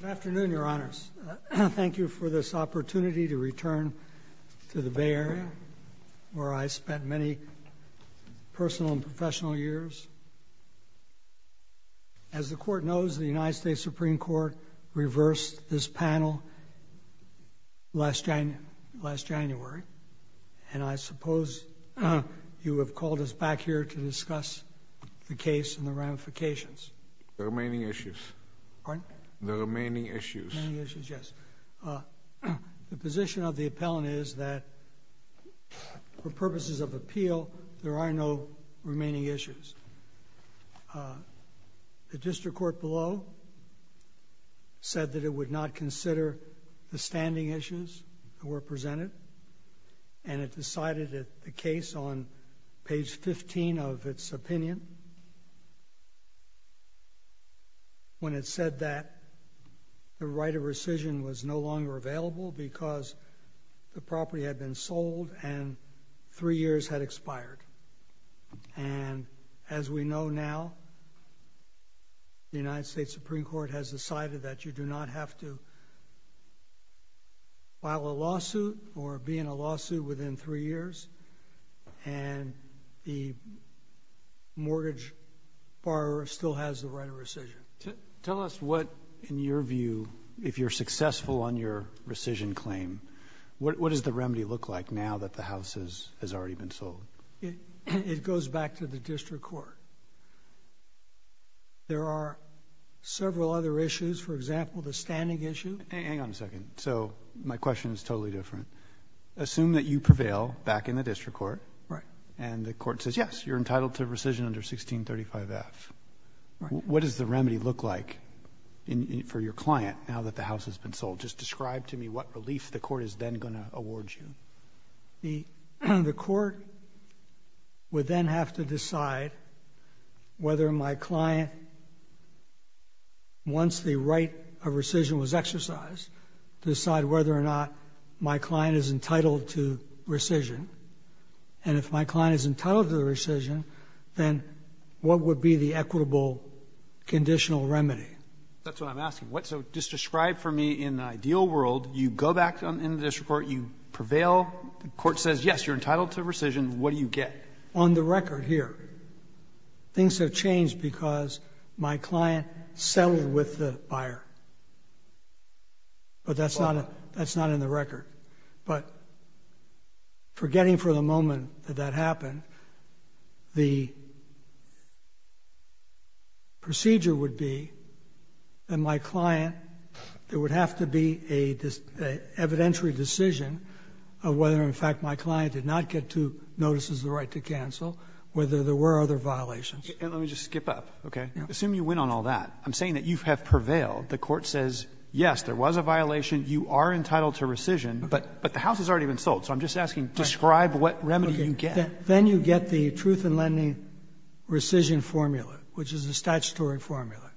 Good afternoon, Your Honors. Thank you for this opportunity to return to the Bay Area where I spent many personal and professional years. As the Court knows, the United States Supreme Court reversed this panel last January, and I suppose you have called us back here to discuss the case and the ramifications. The remaining issues. Pardon? The remaining issues. The remaining issues, yes. The position of the appellant is that for purposes of appeal, there are no remaining issues. The district court below said that it would not consider the standing issues that were presented, and it decided that the case on page 15 of its opinion, when it said that the right of rescission was no longer available because the property had been sold and three years had expired. And as we know now, the United States Supreme Court has decided that you do not have to file a lawsuit or be in a lawsuit within three years, and the mortgage borrower still has the right of rescission. Tell us what, in your view, if you're successful on your rescission claim, what does the remedy look like now that the house has already been sold? It goes back to the district court. There are several other issues. For example, the standing issue. Hang on a second. So my question is totally different. Assume that you prevail back in the district court. Right. And the court says, yes, you're entitled to rescission under 1635F. Right. What does the remedy look like for your client now that the house has been sold? Just describe to me what relief the court is then going to award you. The court would then have to decide whether my client, once the right of rescission was exercised, decide whether or not my client is entitled to rescission. And if my client is entitled to the rescission, then what would be the equitable conditional remedy? That's what I'm asking. So just describe for me, in the ideal world, you go back in the district court, you prevail, the court says, yes, you're entitled to rescission, what do you get? On the record here, things have changed because my client settled with the buyer. But that's not in the record. But forgetting for the moment that that happened, the procedure would be that my client, there would have to be an evidentiary decision of whether, in fact, my client did not get two Let me just skip up, okay? Assume you win on all that. I'm saying that you have prevailed. The court says, yes, there was a violation, you are entitled to rescission, but the house has already been sold. So I'm just asking, describe what remedy you get. Then you get the truth in lending rescission formula, which is a statutory formula.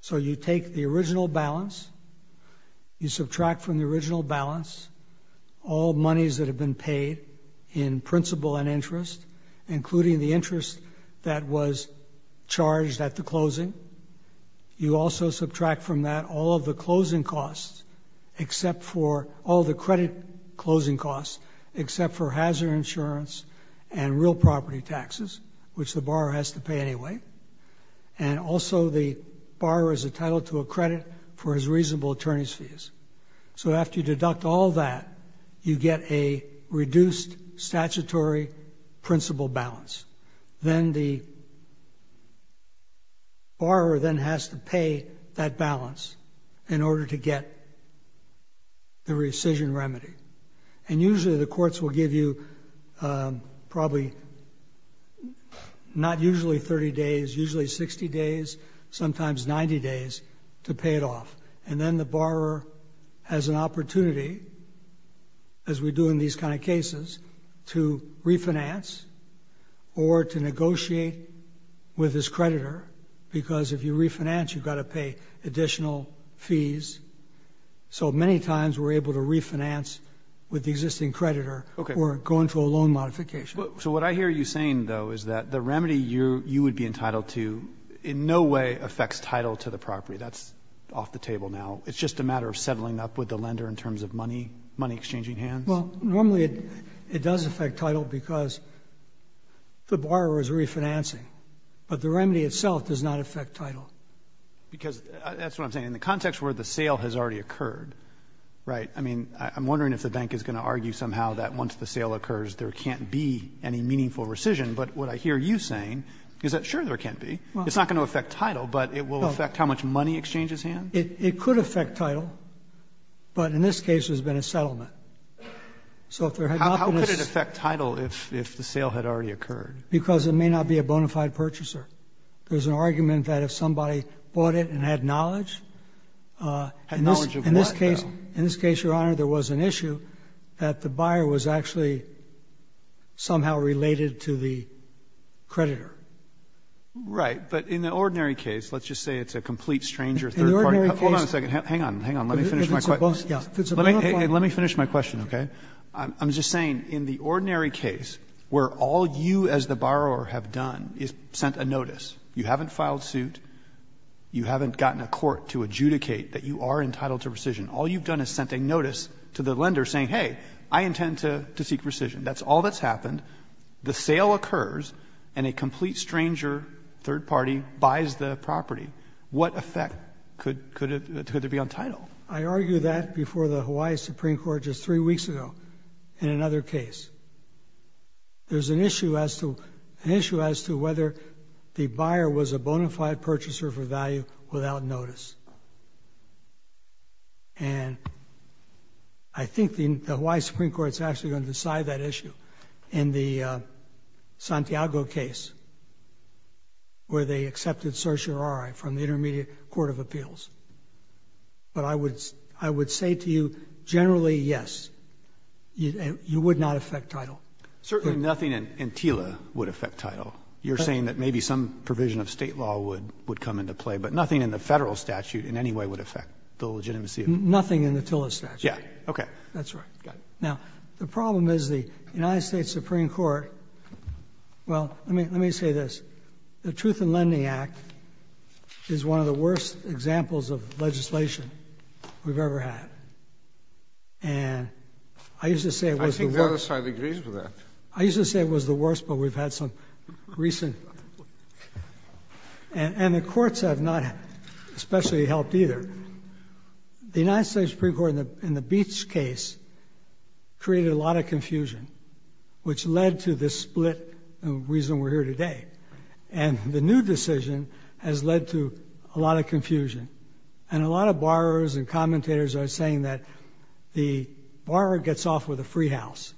So you take the original balance, you subtract from the original balance all monies that have been paid in principal and interest, including the interest that was charged at the closing. You also subtract from that all of the closing costs, except for all the credit closing costs, except for hazard insurance and real property taxes, which the borrower has to pay anyway. And also the borrower is entitled to a credit for his reasonable attorney's So after you deduct all that, you get a reduced statutory principal balance. Then the borrower then has to pay that balance in order to get the rescission remedy. And usually the courts will give you probably not usually 30 days, usually 60 days, sometimes 90 days to pay it off. And then the borrower has an opportunity, as we do in these kind of cases, to refinance or to negotiate with his creditor, because if you refinance, you've got to pay additional fees. So many times we're able to refinance with the existing creditor or go into a loan modification. So what I hear you saying, though, is that the remedy you would be entitled to in no way affects title to the property. That's off the table now. It's just a matter of settling up with the lender in terms of money, money exchanging hands. Well, normally it does affect title because the borrower is refinancing, but the remedy itself does not affect title. Because that's what I'm saying. In the context where the sale has already occurred, right? I mean, I'm wondering if the bank is going to argue somehow that once the sale occurs, there can't be any meaningful rescission. But what I hear you saying is that, sure, there can't be. It's not going to affect title, but it will affect how much money exchanges hands. It could affect title. But in this case, there's been a settlement. So if there had not been a How could it affect title if the sale had already occurred? Because it may not be a bona fide purchaser. There's an argument that if somebody bought it and had knowledge, in this case, Your Honor, there was an issue that the buyer was actually somehow related to the creditor. Right. But in the ordinary case, let's just say it's a complete stranger, third party. The ordinary case Hold on a second. Hang on. Hang on. Let me finish my question. If it's a bona fide Let me finish my question, okay? I'm just saying in the ordinary case where all you as the borrower have done is sent a notice, you haven't filed suit, you haven't gotten a court to adjudicate that you are entitled to rescission, all you've done is sent a notice to the lender saying, hey, I intend to seek rescission. That's all that's happened. The sale occurs and a complete stranger, third party, buys the property. What effect could there be on title? I argue that before the Hawaii Supreme Court just three weeks ago in another case. There's an issue as to whether the buyer was a bona fide purchaser for value without notice. And I think the Hawaii Supreme Court is actually going to decide that issue in the Santiago case where they accepted certiorari from the Intermediate Court of Appeals. But I would say to you, generally, yes, you would not affect title. Certainly nothing in TILA would affect title. You're saying that maybe some provision of in any way would affect the legitimacy of it? Nothing in the TILA statute. Yeah. Okay. That's right. Now, the problem is the United States Supreme Court, well, let me say this. The Truth in Lending Act is one of the worst examples of legislation we've ever had. And I used to say it was the worst. I think the other side agrees with that. I used to say it was the worst, but we've had some recent. And the courts have not especially helped either. The United States Supreme Court in the Beach case created a lot of confusion, which led to this split and the reason we're here today. And the new decision has led to a lot of confusion. And a lot of borrowers and commentators are saying that the borrower gets off with a free house.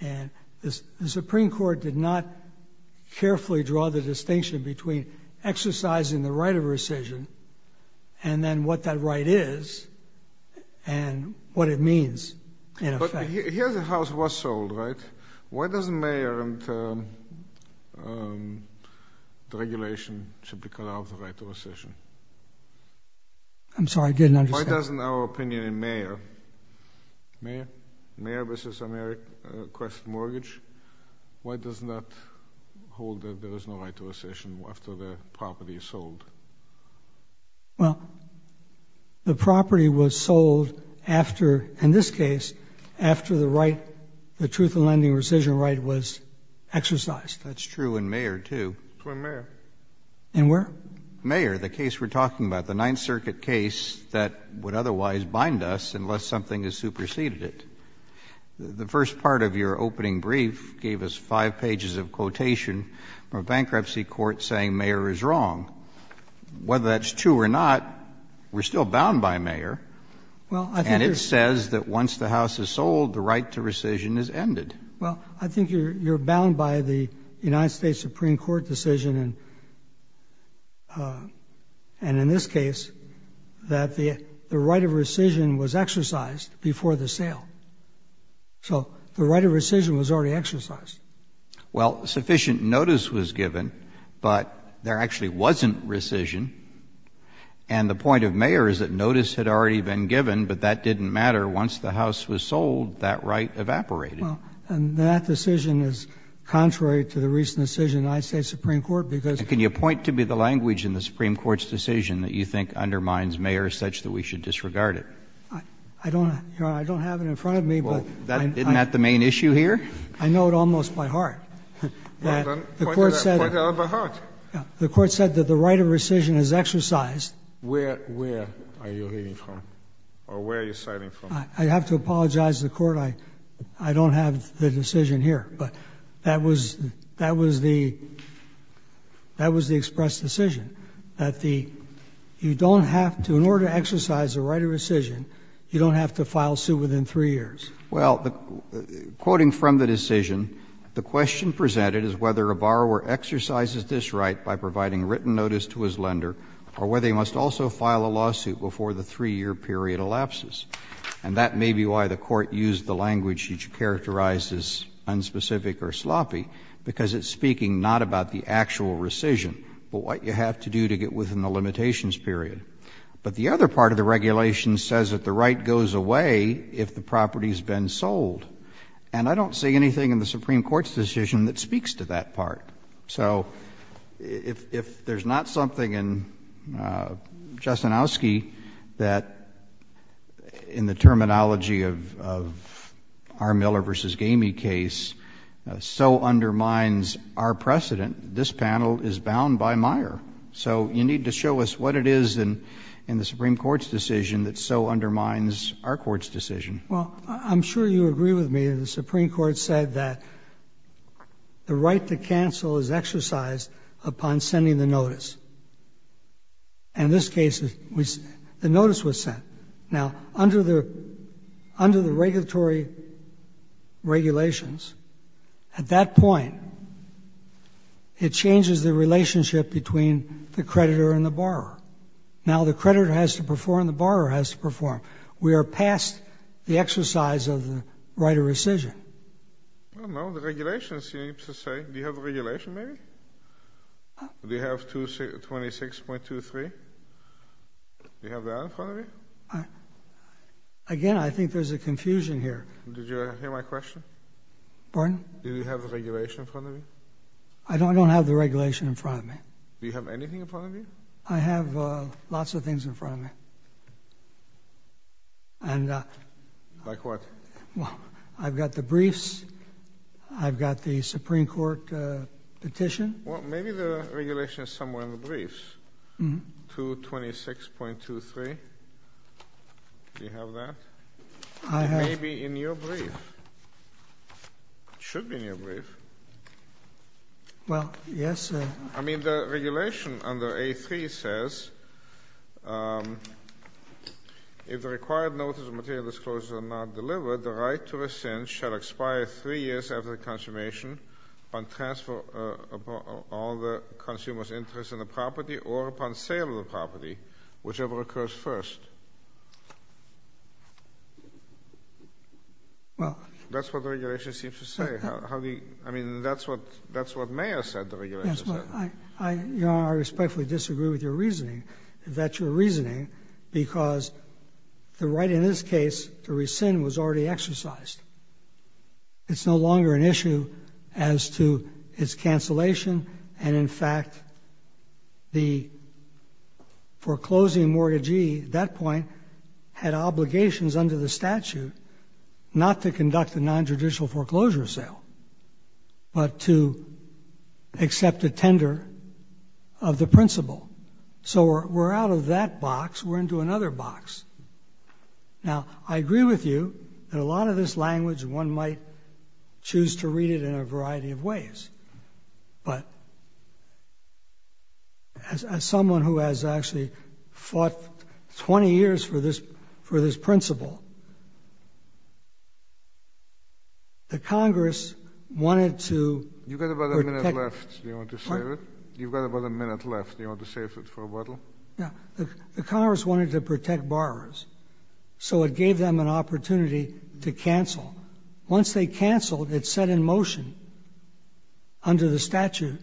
And the Supreme Court did not carefully draw the distinction between exercising the right of rescission and then what that right is and what it means in effect. But here the house was sold, right? Why doesn't the mayor and the regulation should be cut out of the right to rescission? I'm sorry, I didn't understand. Why doesn't our opinion in mayor, mayor versus Ameriquest mortgage, why does that hold that there is no right to rescission after the property is sold? Well, the property was sold after, in this case, after the right, the truth in lending rescission right was exercised. That's true in mayor too. For mayor. In where? Mayor, the case we're talking about, the Ninth Circuit case that would otherwise bind us unless something has superseded it. The first part of your opening brief gave us five pages of quotation from a bankruptcy court saying mayor is wrong. Whether that's true or not, we're still bound by mayor. And it says that once the house is sold, the right to rescission is ended. Well, I think you're bound by the United States Supreme Court decision. And in this case, that the right of rescission was exercised before the sale. So the right of rescission was already exercised. Well, sufficient notice was given, but there actually wasn't rescission. And the point of mayor is that notice had already been given, but that didn't matter. Once the house was sold, that right evaporated. And that decision is contrary to the recent decision in the United States Supreme Court. And can you point to be the language in the Supreme Court's decision that you think undermines mayor such that we should disregard it? I don't have it in front of me. Well, isn't that the main issue here? I know it almost by heart. The court said that the right of rescission is exercised. Where are you reading from? Or where are you citing from? I have to apologize to the court. I don't have the decision here. But that was the expressed decision, that you don't have to, in order to exercise the right of rescission, you don't have to file suit within three years. Well, quoting from the decision, the question presented is whether a borrower exercises this right by providing written notice to his lender or whether he must also file a lawsuit before the three-year period elapses. And that may be why the court used the language which characterizes unspecific or sloppy, because it's speaking not about the actual rescission, but what you have to do to get within the limitations period. But the other part of the regulation says that the right goes away if the property has been sold. And I don't see anything in the Supreme Court's decision that speaks to that part. So if there's not something in Jastrzenowski that, in the terminology of our Miller v. Gamey case, so undermines our precedent, this panel is bound by Meyer. So you need to show us what it is in the Supreme Court's decision that so undermines our court's decision. Well, I'm sure you agree with me that the Supreme Court said that the right to cancel is exercised upon sending the notice. In this case, the notice was sent. Now, under the regulatory regulations, at that point, it changes the relationship between the creditor and the borrower. Now, the creditor has to perform, the borrower has to perform. We are past the exercise of the right of rescission. I don't know. The regulations seem to say. Do you have the regulation, maybe? Do you have 26.23? Do you have that in front of you? Again, I think there's a confusion here. Did you hear my question? Pardon? Do you have the regulation in front of you? I don't have the regulation in front of me. Do you have anything in front of you? I have lots of things in front of me. And. Like what? Well, I've got the briefs. I've got the Supreme Court petition. Well, maybe the regulation is somewhere in the briefs. 226.23. Do you have that? I have. Maybe in your brief. It should be in your brief. Well, yes. I mean, the regulation under A3 says, if the required notice of material disclosures are not delivered, the right to rescind shall expire three years after the consummation on transfer upon all the consumer's interest in the property or upon sale of the property, whichever occurs first. Well. That's what the regulation seems to say. I mean, that's what Mayor said. I respectfully disagree with your reasoning. That's your reasoning because the right in this case to rescind was already exercised. It's no longer an issue as to its cancellation. And in fact, the foreclosing mortgagee at that point had obligations under the statute not to conduct a non-judicial foreclosure sale, but to accept a tender of the principle. So we're out of that box. We're into another box. Now, I agree with you that a lot of this language, one might choose to read it in a variety of ways. But as someone who has actually fought 20 years for this principle, the Congress wanted to protect. You've got about a minute left. Do you want to save it? You've got about a minute left. Do you want to save it for a bottle? Yeah. The Congress wanted to protect borrowers. So it gave them an opportunity to cancel. Once they canceled, it set in motion under the statute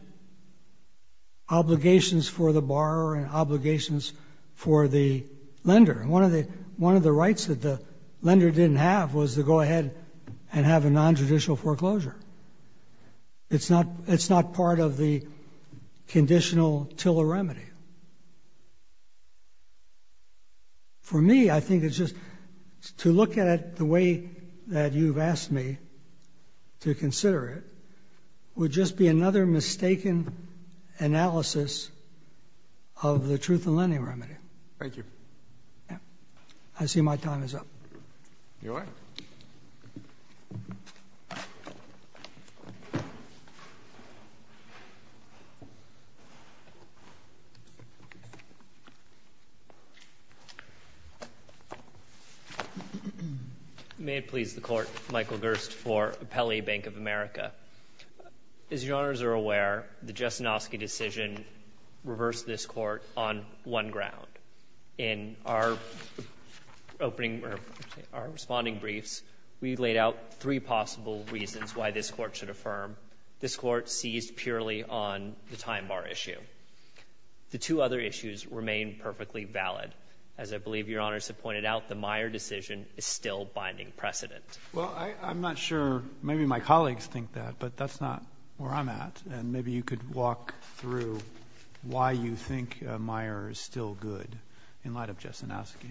obligations for the borrower and obligations for the lender. One of the rights that the lender didn't have was to go ahead and have a non-judicial foreclosure. It's not part of the conditional TILA remedy. For me, I think it's just to look at it the way that you've asked me to consider it would just be another mistaken analysis of the truth-in-lending remedy. Thank you. Yeah. I see my time is up. You're all right. May it please the Court, Michael Gerst for Appellee Bank of America. As your honors are aware, the Jastrzynowski decision reversed this court on one ground. In our responding briefs, we laid out three possible reasons why this court should affirm this court seized purely on the time bar issue. The two other issues remain perfectly valid. As I believe your honors have pointed out, the Meyer decision is still binding precedent. Well, I'm not sure. Maybe my colleagues think that, but that's not where I'm at. And maybe you could walk through why you think Meyer is still good. In light of Jastrzynowski.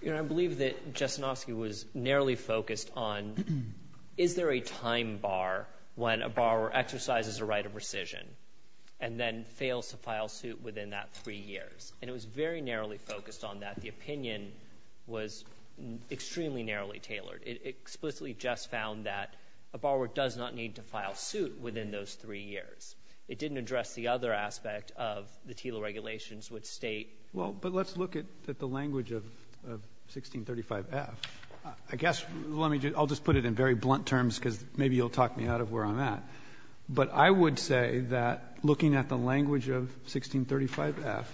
You know, I believe that Jastrzynowski was narrowly focused on, is there a time bar when a borrower exercises a right of rescission and then fails to file suit within that three years? And it was very narrowly focused on that. The opinion was extremely narrowly tailored. It explicitly just found that a borrower does not need to file suit within those three years. It didn't address the other aspect of the TILA regulations, which state— Well, but let's look at the language of 1635F. I guess, let me just — I'll just put it in very blunt terms, because maybe you'll talk me out of where I'm at. But I would say that, looking at the language of 1635F,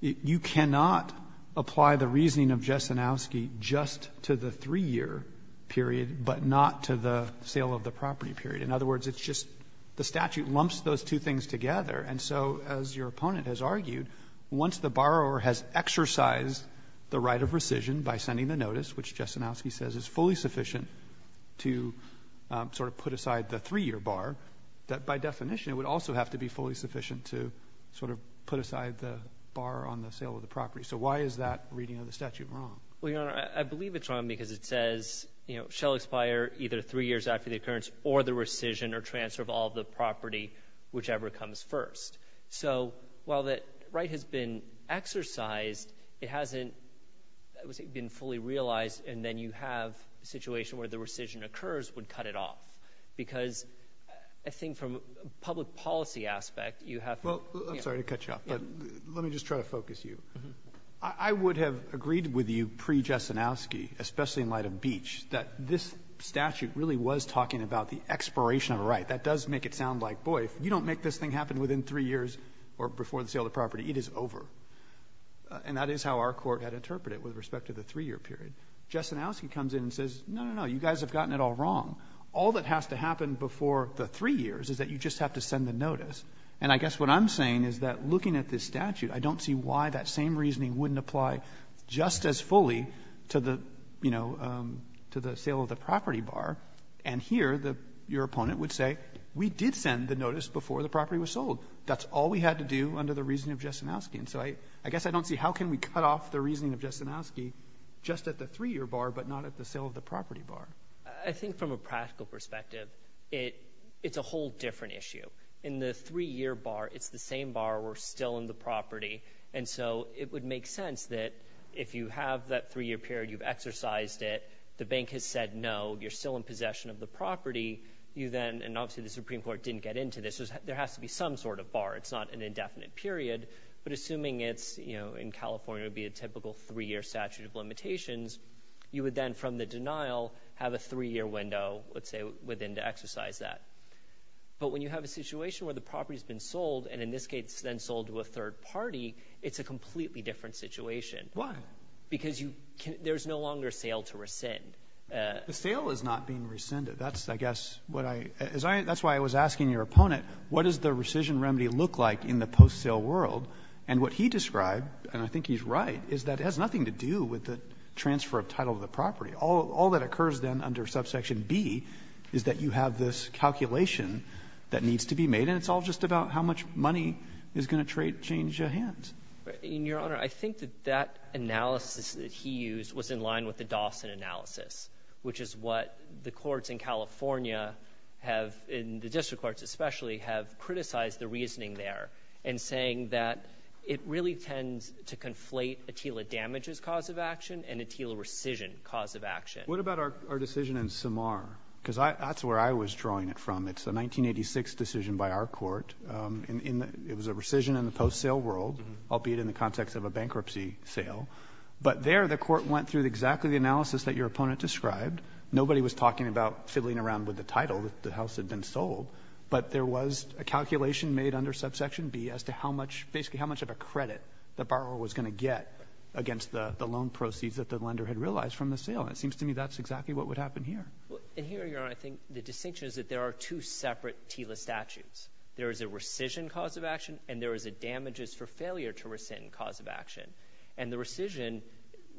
you cannot apply the reasoning of Jastrzynowski just to the three-year period, but not to the sale of the property period. In other words, it's just the statute lumps those two things together. And so, as your opponent has argued, once the borrower has exercised the right of rescission by sending the notice, which Jastrzynowski says is fully sufficient to sort of put aside the three-year bar, that, by definition, it would also have to be fully sufficient to sort of put aside the bar on the sale of the property. So why is that reading of the statute wrong? Well, Your Honor, I believe it's wrong because it says, you know, shall expire either three years after the occurrence or the rescission or transfer of all the property, whichever comes first. So while the right has been exercised, it hasn't been fully realized, and then you have a situation where the rescission occurs would cut it off. Because I think from a public policy aspect, you have to— Well, I'm sorry to cut you off, but let me just try to focus you. I would have agreed with you pre-Jastrzynowski, especially in light of Beach, that this statute really was talking about the expiration of a right. That does make it sound like, boy, if you don't make this thing happen within three years or before the sale of the property, it is over. And that is how our Court had interpreted it with respect to the three-year period. Jastrzynowski comes in and says, no, no, no, you guys have gotten it all wrong. All that has to happen before the three years is that you just have to send a notice. And I guess what I'm saying is that looking at this statute, I don't see why that same reasoning wouldn't apply just as fully to the, you know, to the sale of the property bar. And here, your opponent would say, we did send the notice before the property was sold. That's all we had to do under the reasoning of Jastrzynowski. And so I guess I don't see how can we cut off the reasoning of Jastrzynowski just at the three-year bar, but not at the sale of the property bar? I think from a practical perspective, it's a whole different issue. In the three-year bar, it's the same bar. We're still in the property. And so it would make sense that if you have that three-year period, you've exercised it, the bank has said, no, you're still in possession of the property. You then—and obviously, the Supreme Court didn't get into this—there has to be some sort of bar. It's not an indefinite period. But assuming it's, you know, in California, it would be a typical three-year statute of limitations, you would then, from the denial, have a three-year window, let's say, within to exercise that. But when you have a situation where the property has been sold, and in this case, it's then sold to a third party, it's a completely different situation. Why? Because there's no longer a sale to rescind. The sale is not being rescinded. That's, I guess, what I—that's why I was asking your opponent, what does the rescission remedy look like in the post-sale world? And what he described, and I think he's right, is that it has nothing to do with the transfer of title of the property. All that occurs then under subsection B is that you have this calculation that needs to be made, and it's all just about how much money is going to change hands. Your Honor, I think that that analysis that he used was in line with the Dawson analysis, which is what the courts in California have, in the district courts especially, have criticized the reasoning there in saying that it really tends to conflate a TILA damages cause of action and a TILA rescission cause of action. What about our decision in Samar? Because that's where I was drawing it from. It's a 1986 decision by our court. It was a rescission in the post-sale world, albeit in the context of a bankruptcy sale. But there the court went through exactly the analysis that your opponent described. Nobody was talking about fiddling around with the title that the house had been sold, but there was a calculation made under subsection B as to how much—basically how much of a credit the borrower was going to get against the loan proceeds that the lender had realized from the sale. And it seems to me that's exactly what would happen here. Well, and here, Your Honor, I think the distinction is that there are two separate TILA statutes. There is a rescission cause of action and there is a damages for failure to rescind cause of action. And the rescission,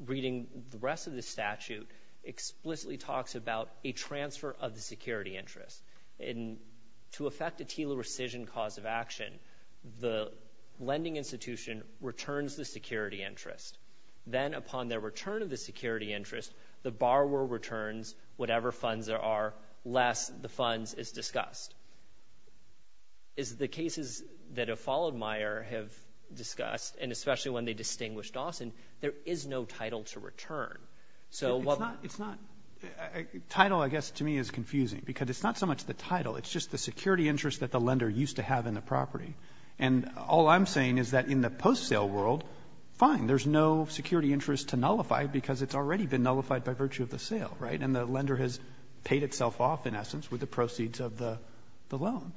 reading the rest of the statute, explicitly talks about a transfer of the security interest. And to affect a TILA rescission cause of action, the lending institution returns the security interest. Then upon their return of the security interest, the borrower returns whatever funds there are less the funds is discussed. As the cases that have followed Meyer have discussed, and especially when they distinguished Dawson, there is no title to return. So what— It's not—title, I guess, to me is confusing because it's not so much the title. It's just the security interest that the lender used to have in the property. And all I'm saying is that in the post-sale world, fine, there's no security interest to nullify because it's already been nullified by virtue of the sale, right? And the lender has paid itself off, in essence, with the proceeds of the loan.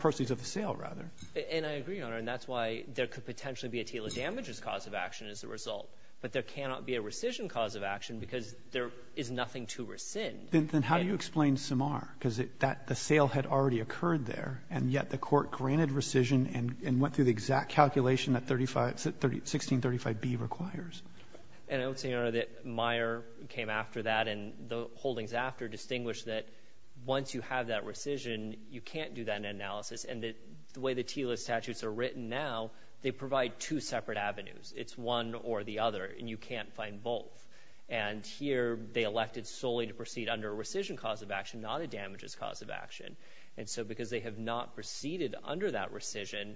Proceeds of the sale, rather. And I agree, Your Honor, and that's why there could potentially be a TILA damages cause of action as a result. But there cannot be a rescission cause of action because there is nothing to rescind. Then how do you explain Samar? Because the sale had already occurred there, and yet the court granted rescission and went through the exact calculation that 1635B requires. And I would say, Your Honor, that Meyer came after that and the holdings after that to distinguish that once you have that rescission, you can't do that analysis. And the way the TILA statutes are written now, they provide two separate avenues. It's one or the other, and you can't find both. And here, they elected solely to proceed under a rescission cause of action, not a damages cause of action. And so because they have not proceeded under that rescission,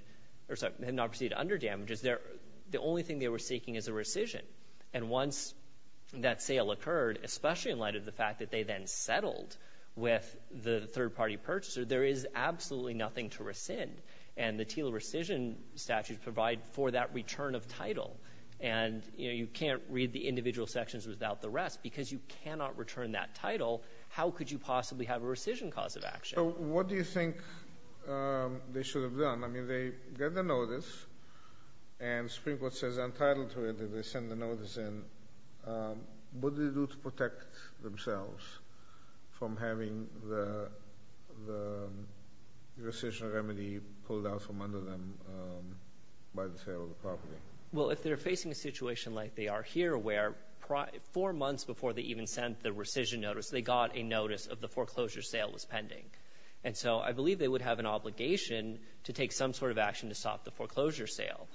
or sorry, they have not proceeded under damages, the only thing they were seeking is a rescission. And once that sale occurred, especially in light of the fact that they then settled with the third-party purchaser, there is absolutely nothing to rescind. And the TILA rescission statutes provide for that return of title. And, you know, you can't read the individual sections without the rest. Because you cannot return that title, how could you possibly have a rescission cause of action? So what do you think they should have done? I mean, they get the notice, and the Supreme Court says, I'm entitled to it, and they send the notice in. What do they do to protect themselves from having the rescission remedy pulled out from under them by the sale of the property? Well, if they're facing a situation like they are here, where four months before they even sent the rescission notice, they got a notice of the foreclosure sale was pending. And so I believe they would have an obligation to take some sort of action to stop the foreclosure sale.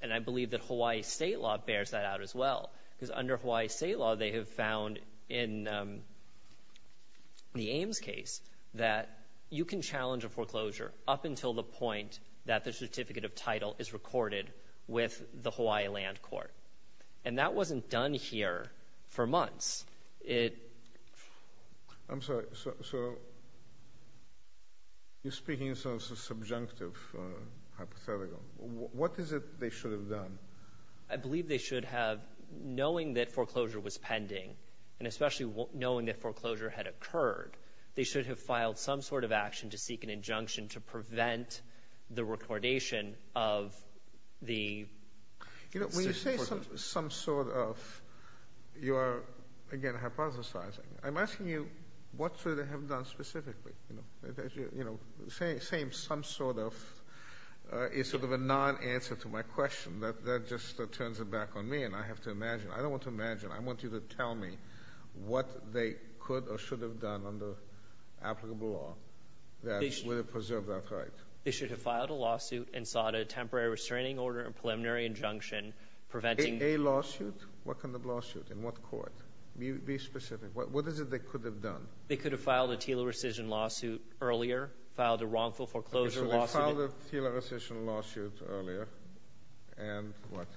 And I believe that Hawaii state law bears that out as well. Because under Hawaii state law, they have found in the Ames case that you can challenge a foreclosure up until the point that the certificate of title is recorded with the Hawaii land court. And that wasn't done here for months. I'm sorry, so you're speaking in terms of subjunctive hypothetical. What is it they should have done? I believe they should have, knowing that foreclosure was pending, and especially knowing that foreclosure had occurred, they should have filed some sort of action to seek an injunction to prevent the recordation of the... When you say some sort of, you are, again, hypothesizing. I'm asking you, what should they have done specifically? You know, saying some sort of is sort of a non-answer to my question. That just turns it back on me, and I have to imagine. I don't want to imagine. I want you to tell me what they could or should have done under applicable law that would have preserved that right. They should have filed a lawsuit and sought a temporary restraining order and preliminary injunction preventing... A lawsuit? What kind of lawsuit? In what court? Be specific. What is it they could have done? They could have filed a TILA rescission lawsuit earlier, filed a wrongful foreclosure lawsuit... They filed a TILA rescission lawsuit earlier, and what?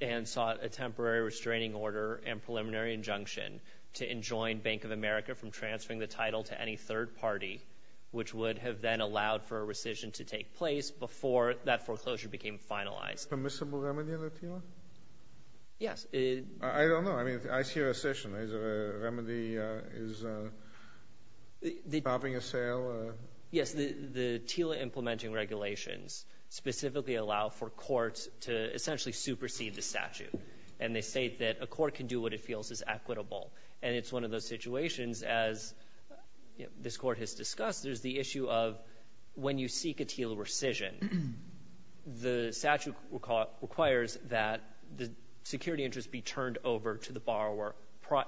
And sought a temporary restraining order and preliminary injunction to enjoin Bank of America from transferring the title to any third party, which would have then allowed for a rescission to take place before that foreclosure became finalized. Permissible remedy of the TILA? Yes. I don't know. I mean, I see a rescission. Remedy is stopping a sale? Yes. The TILA implementing regulations specifically allow for courts to essentially supersede the statute. And they say that a court can do what it feels is equitable. And it's one of those situations, as this court has discussed, there's the issue of when you seek a TILA rescission, the statute requires that the security interest be turned over to the borrower,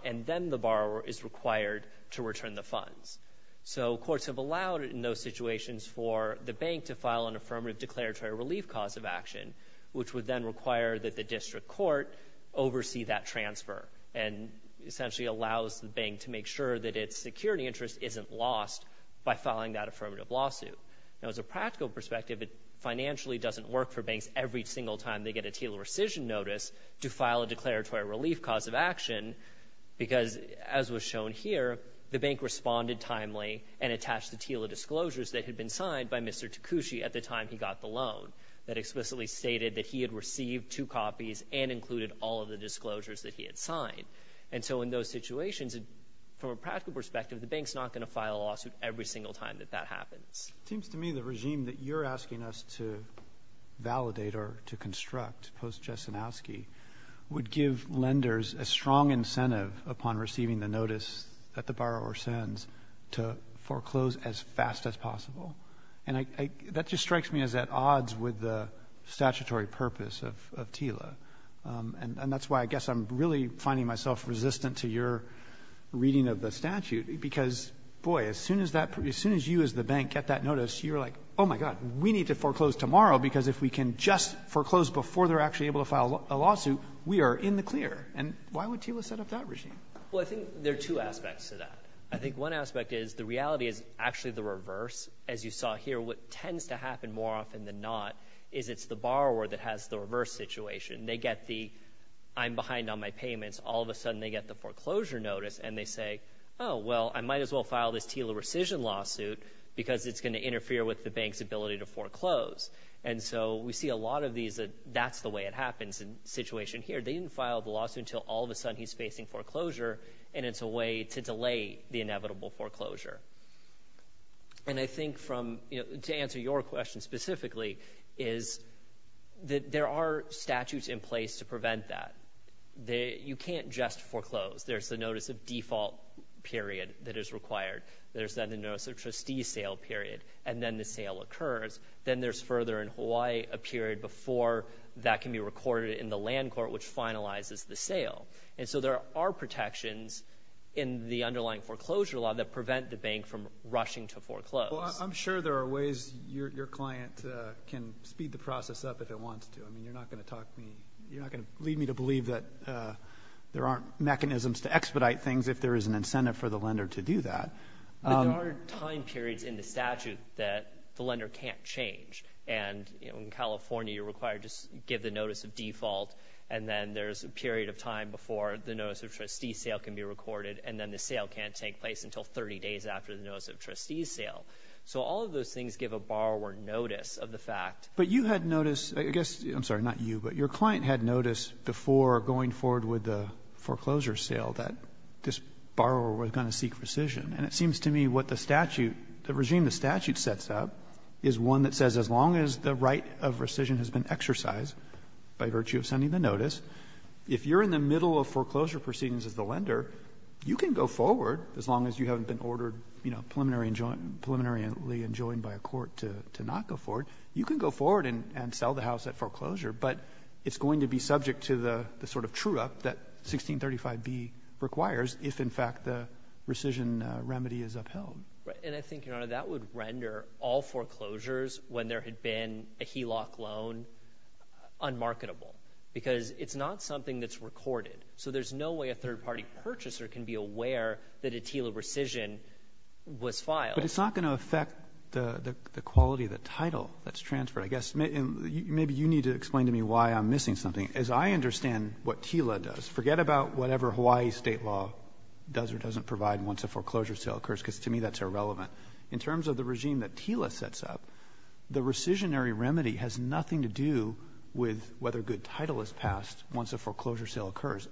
and then the borrower is required to return the funds. So courts have allowed in those situations for the bank to file an affirmative declaratory relief cause of action, which would then require that the district court oversee that transfer and essentially allows the bank to make sure that its security interest isn't lost by filing that affirmative lawsuit. Now, as a practical perspective, it financially doesn't work for banks every single time they get a TILA rescission notice to file a declaratory relief cause of action, because as was shown here, the bank responded timely and attached the TILA disclosures that had been signed by Mr. Takushi at the time he got the loan that explicitly stated that he had received two copies and included all of the disclosures that he had signed. And so in those situations, from a practical perspective, the bank's not going to file a lawsuit every single time that that happens. It seems to me the regime that you're asking us to validate or to construct post-Jasinowski would give lenders a strong incentive upon receiving the notice that the borrower sends to foreclose as fast as possible. And that just strikes me as at odds with the statutory purpose of TILA. And that's why I guess I'm really finding myself resistant to your reading of the statute, because, boy, as soon as you as the bank get that notice, you're like, oh, my God, we need to foreclose tomorrow, because if we can just foreclose before they're actually able to file a lawsuit, we are in the clear. And why would TILA set up that regime? Well, I think there are two aspects to that. I think one aspect is the reality is actually the reverse. As you saw here, what tends to happen more often than not is it's the borrower that has the reverse situation. They get the, I'm behind on my payments. All of a sudden, they get the foreclosure notice, and they say, oh, well, I might as well file this TILA rescission lawsuit because it's going to interfere with the bank's ability to foreclose. And so we see a lot of these that that's the way it happens in the situation here. They didn't file the lawsuit until all of a sudden he's facing foreclosure, and it's a way to delay the inevitable foreclosure. And I think to answer your question specifically is that there are statutes in place to prevent that. You can't just foreclose. There's the notice of default period that is required. There's then the notice of trustee sale period, and then the sale occurs. Then there's further in Hawaii a period before that can be recorded in the land court, which finalizes the sale. And so there are protections in the underlying foreclosure law that prevent the bank from rushing to foreclose. Well, I'm sure there are ways your client can speed the process up if it wants to. I mean, you're not going to talk to me. You're not going to lead me to believe that there aren't mechanisms to expedite things if there is an incentive for the lender to do that. But there are time periods in the statute that the lender can't change. And in California, you're required to give the notice of default, and then there's a period of time before the notice of trustee sale can be recorded, and then the sale can't take place until 30 days after the notice of trustee sale. So all of those things give a borrower notice of the fact. But you had noticed, I guess, I'm sorry, not you, but your client had noticed before going forward with the foreclosure sale that this borrower was going to seek rescission. And it seems to me what the statute, the regime the statute sets up is one that says as long as the right of rescission has been exercised by virtue of sending the notice, if you're in the middle of foreclosure proceedings as the lender, you can go forward as long as you haven't been ordered preliminarily enjoined by a court to not go forward. You can go forward and sell the house at foreclosure, but it's going to be subject to the sort of true-up that 1635B requires if, in fact, the rescission remedy is upheld. Right. And I think, Your Honor, that would render all foreclosures when there had been a HELOC loan unmarketable because it's not something that's recorded. So there's no way a third-party purchaser can be aware that a TILA rescission was filed. But it's not going to affect the quality of the title that's transferred, I guess. Maybe you need to explain to me why I'm missing something. As I understand what TILA does, forget about whatever Hawaii state law does or doesn't provide once a foreclosure sale occurs, because to me that's irrelevant. In terms of the regime that TILA sets up, the rescissionary remedy has nothing to do with whether a good title is passed once a foreclosure sale occurs.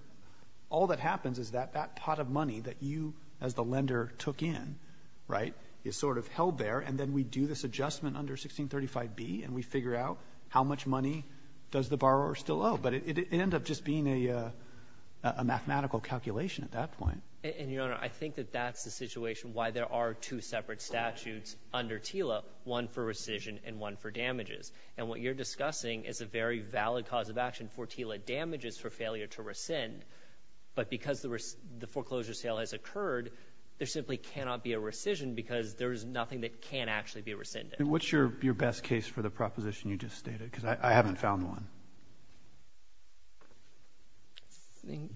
All that happens is that that pot of money that you as the lender took in, right, is sort of held there, and then we do this adjustment under 1635B, and we figure out how much money does the borrower still owe. But it ended up just being a mathematical calculation at that point. And, Your Honor, I think that that's the situation why there are two separate statutes under TILA, one for rescission and one for damages. And what you're discussing is a very valid cause of action for TILA damages for failure to rescind, but because the foreclosure sale has occurred, there simply cannot be a rescission because there is nothing that can actually be rescinded. What's your best case for the proposition you just stated? Because I haven't found one. Thank you.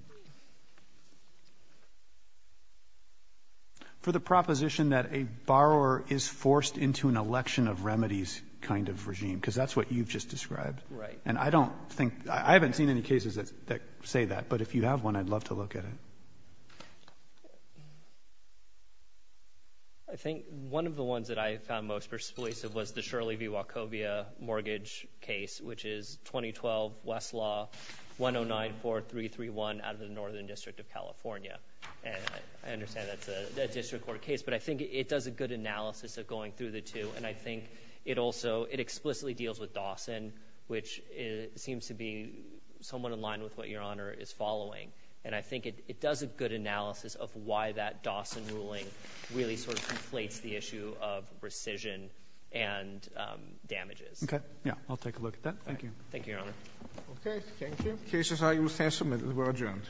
For the proposition that a borrower is forced into an election of remedies kind of regime, because that's what you've just described. Right. And I don't think, I haven't seen any cases that say that, but if you have one, I'd love to look at it. I think one of the ones that I found most persuasive was the Shirley v. Wachovia mortgage case, which is 2012 Westlaw 1094331 out of the Northern District of California. And I understand that's a district court case, but I think it does a good analysis of going through the two. And I think it also, it explicitly deals with Dawson, which seems to be somewhat in line with what Your Honor is following. And I think it does a good analysis of why that Dawson ruling really sort of inflates the issue of rescission and damages. Okay. Yeah. I'll take a look at that. Thank you. Thank you, Your Honor. Okay. Thank you. Cases are, you will stand submitted. We're adjourned.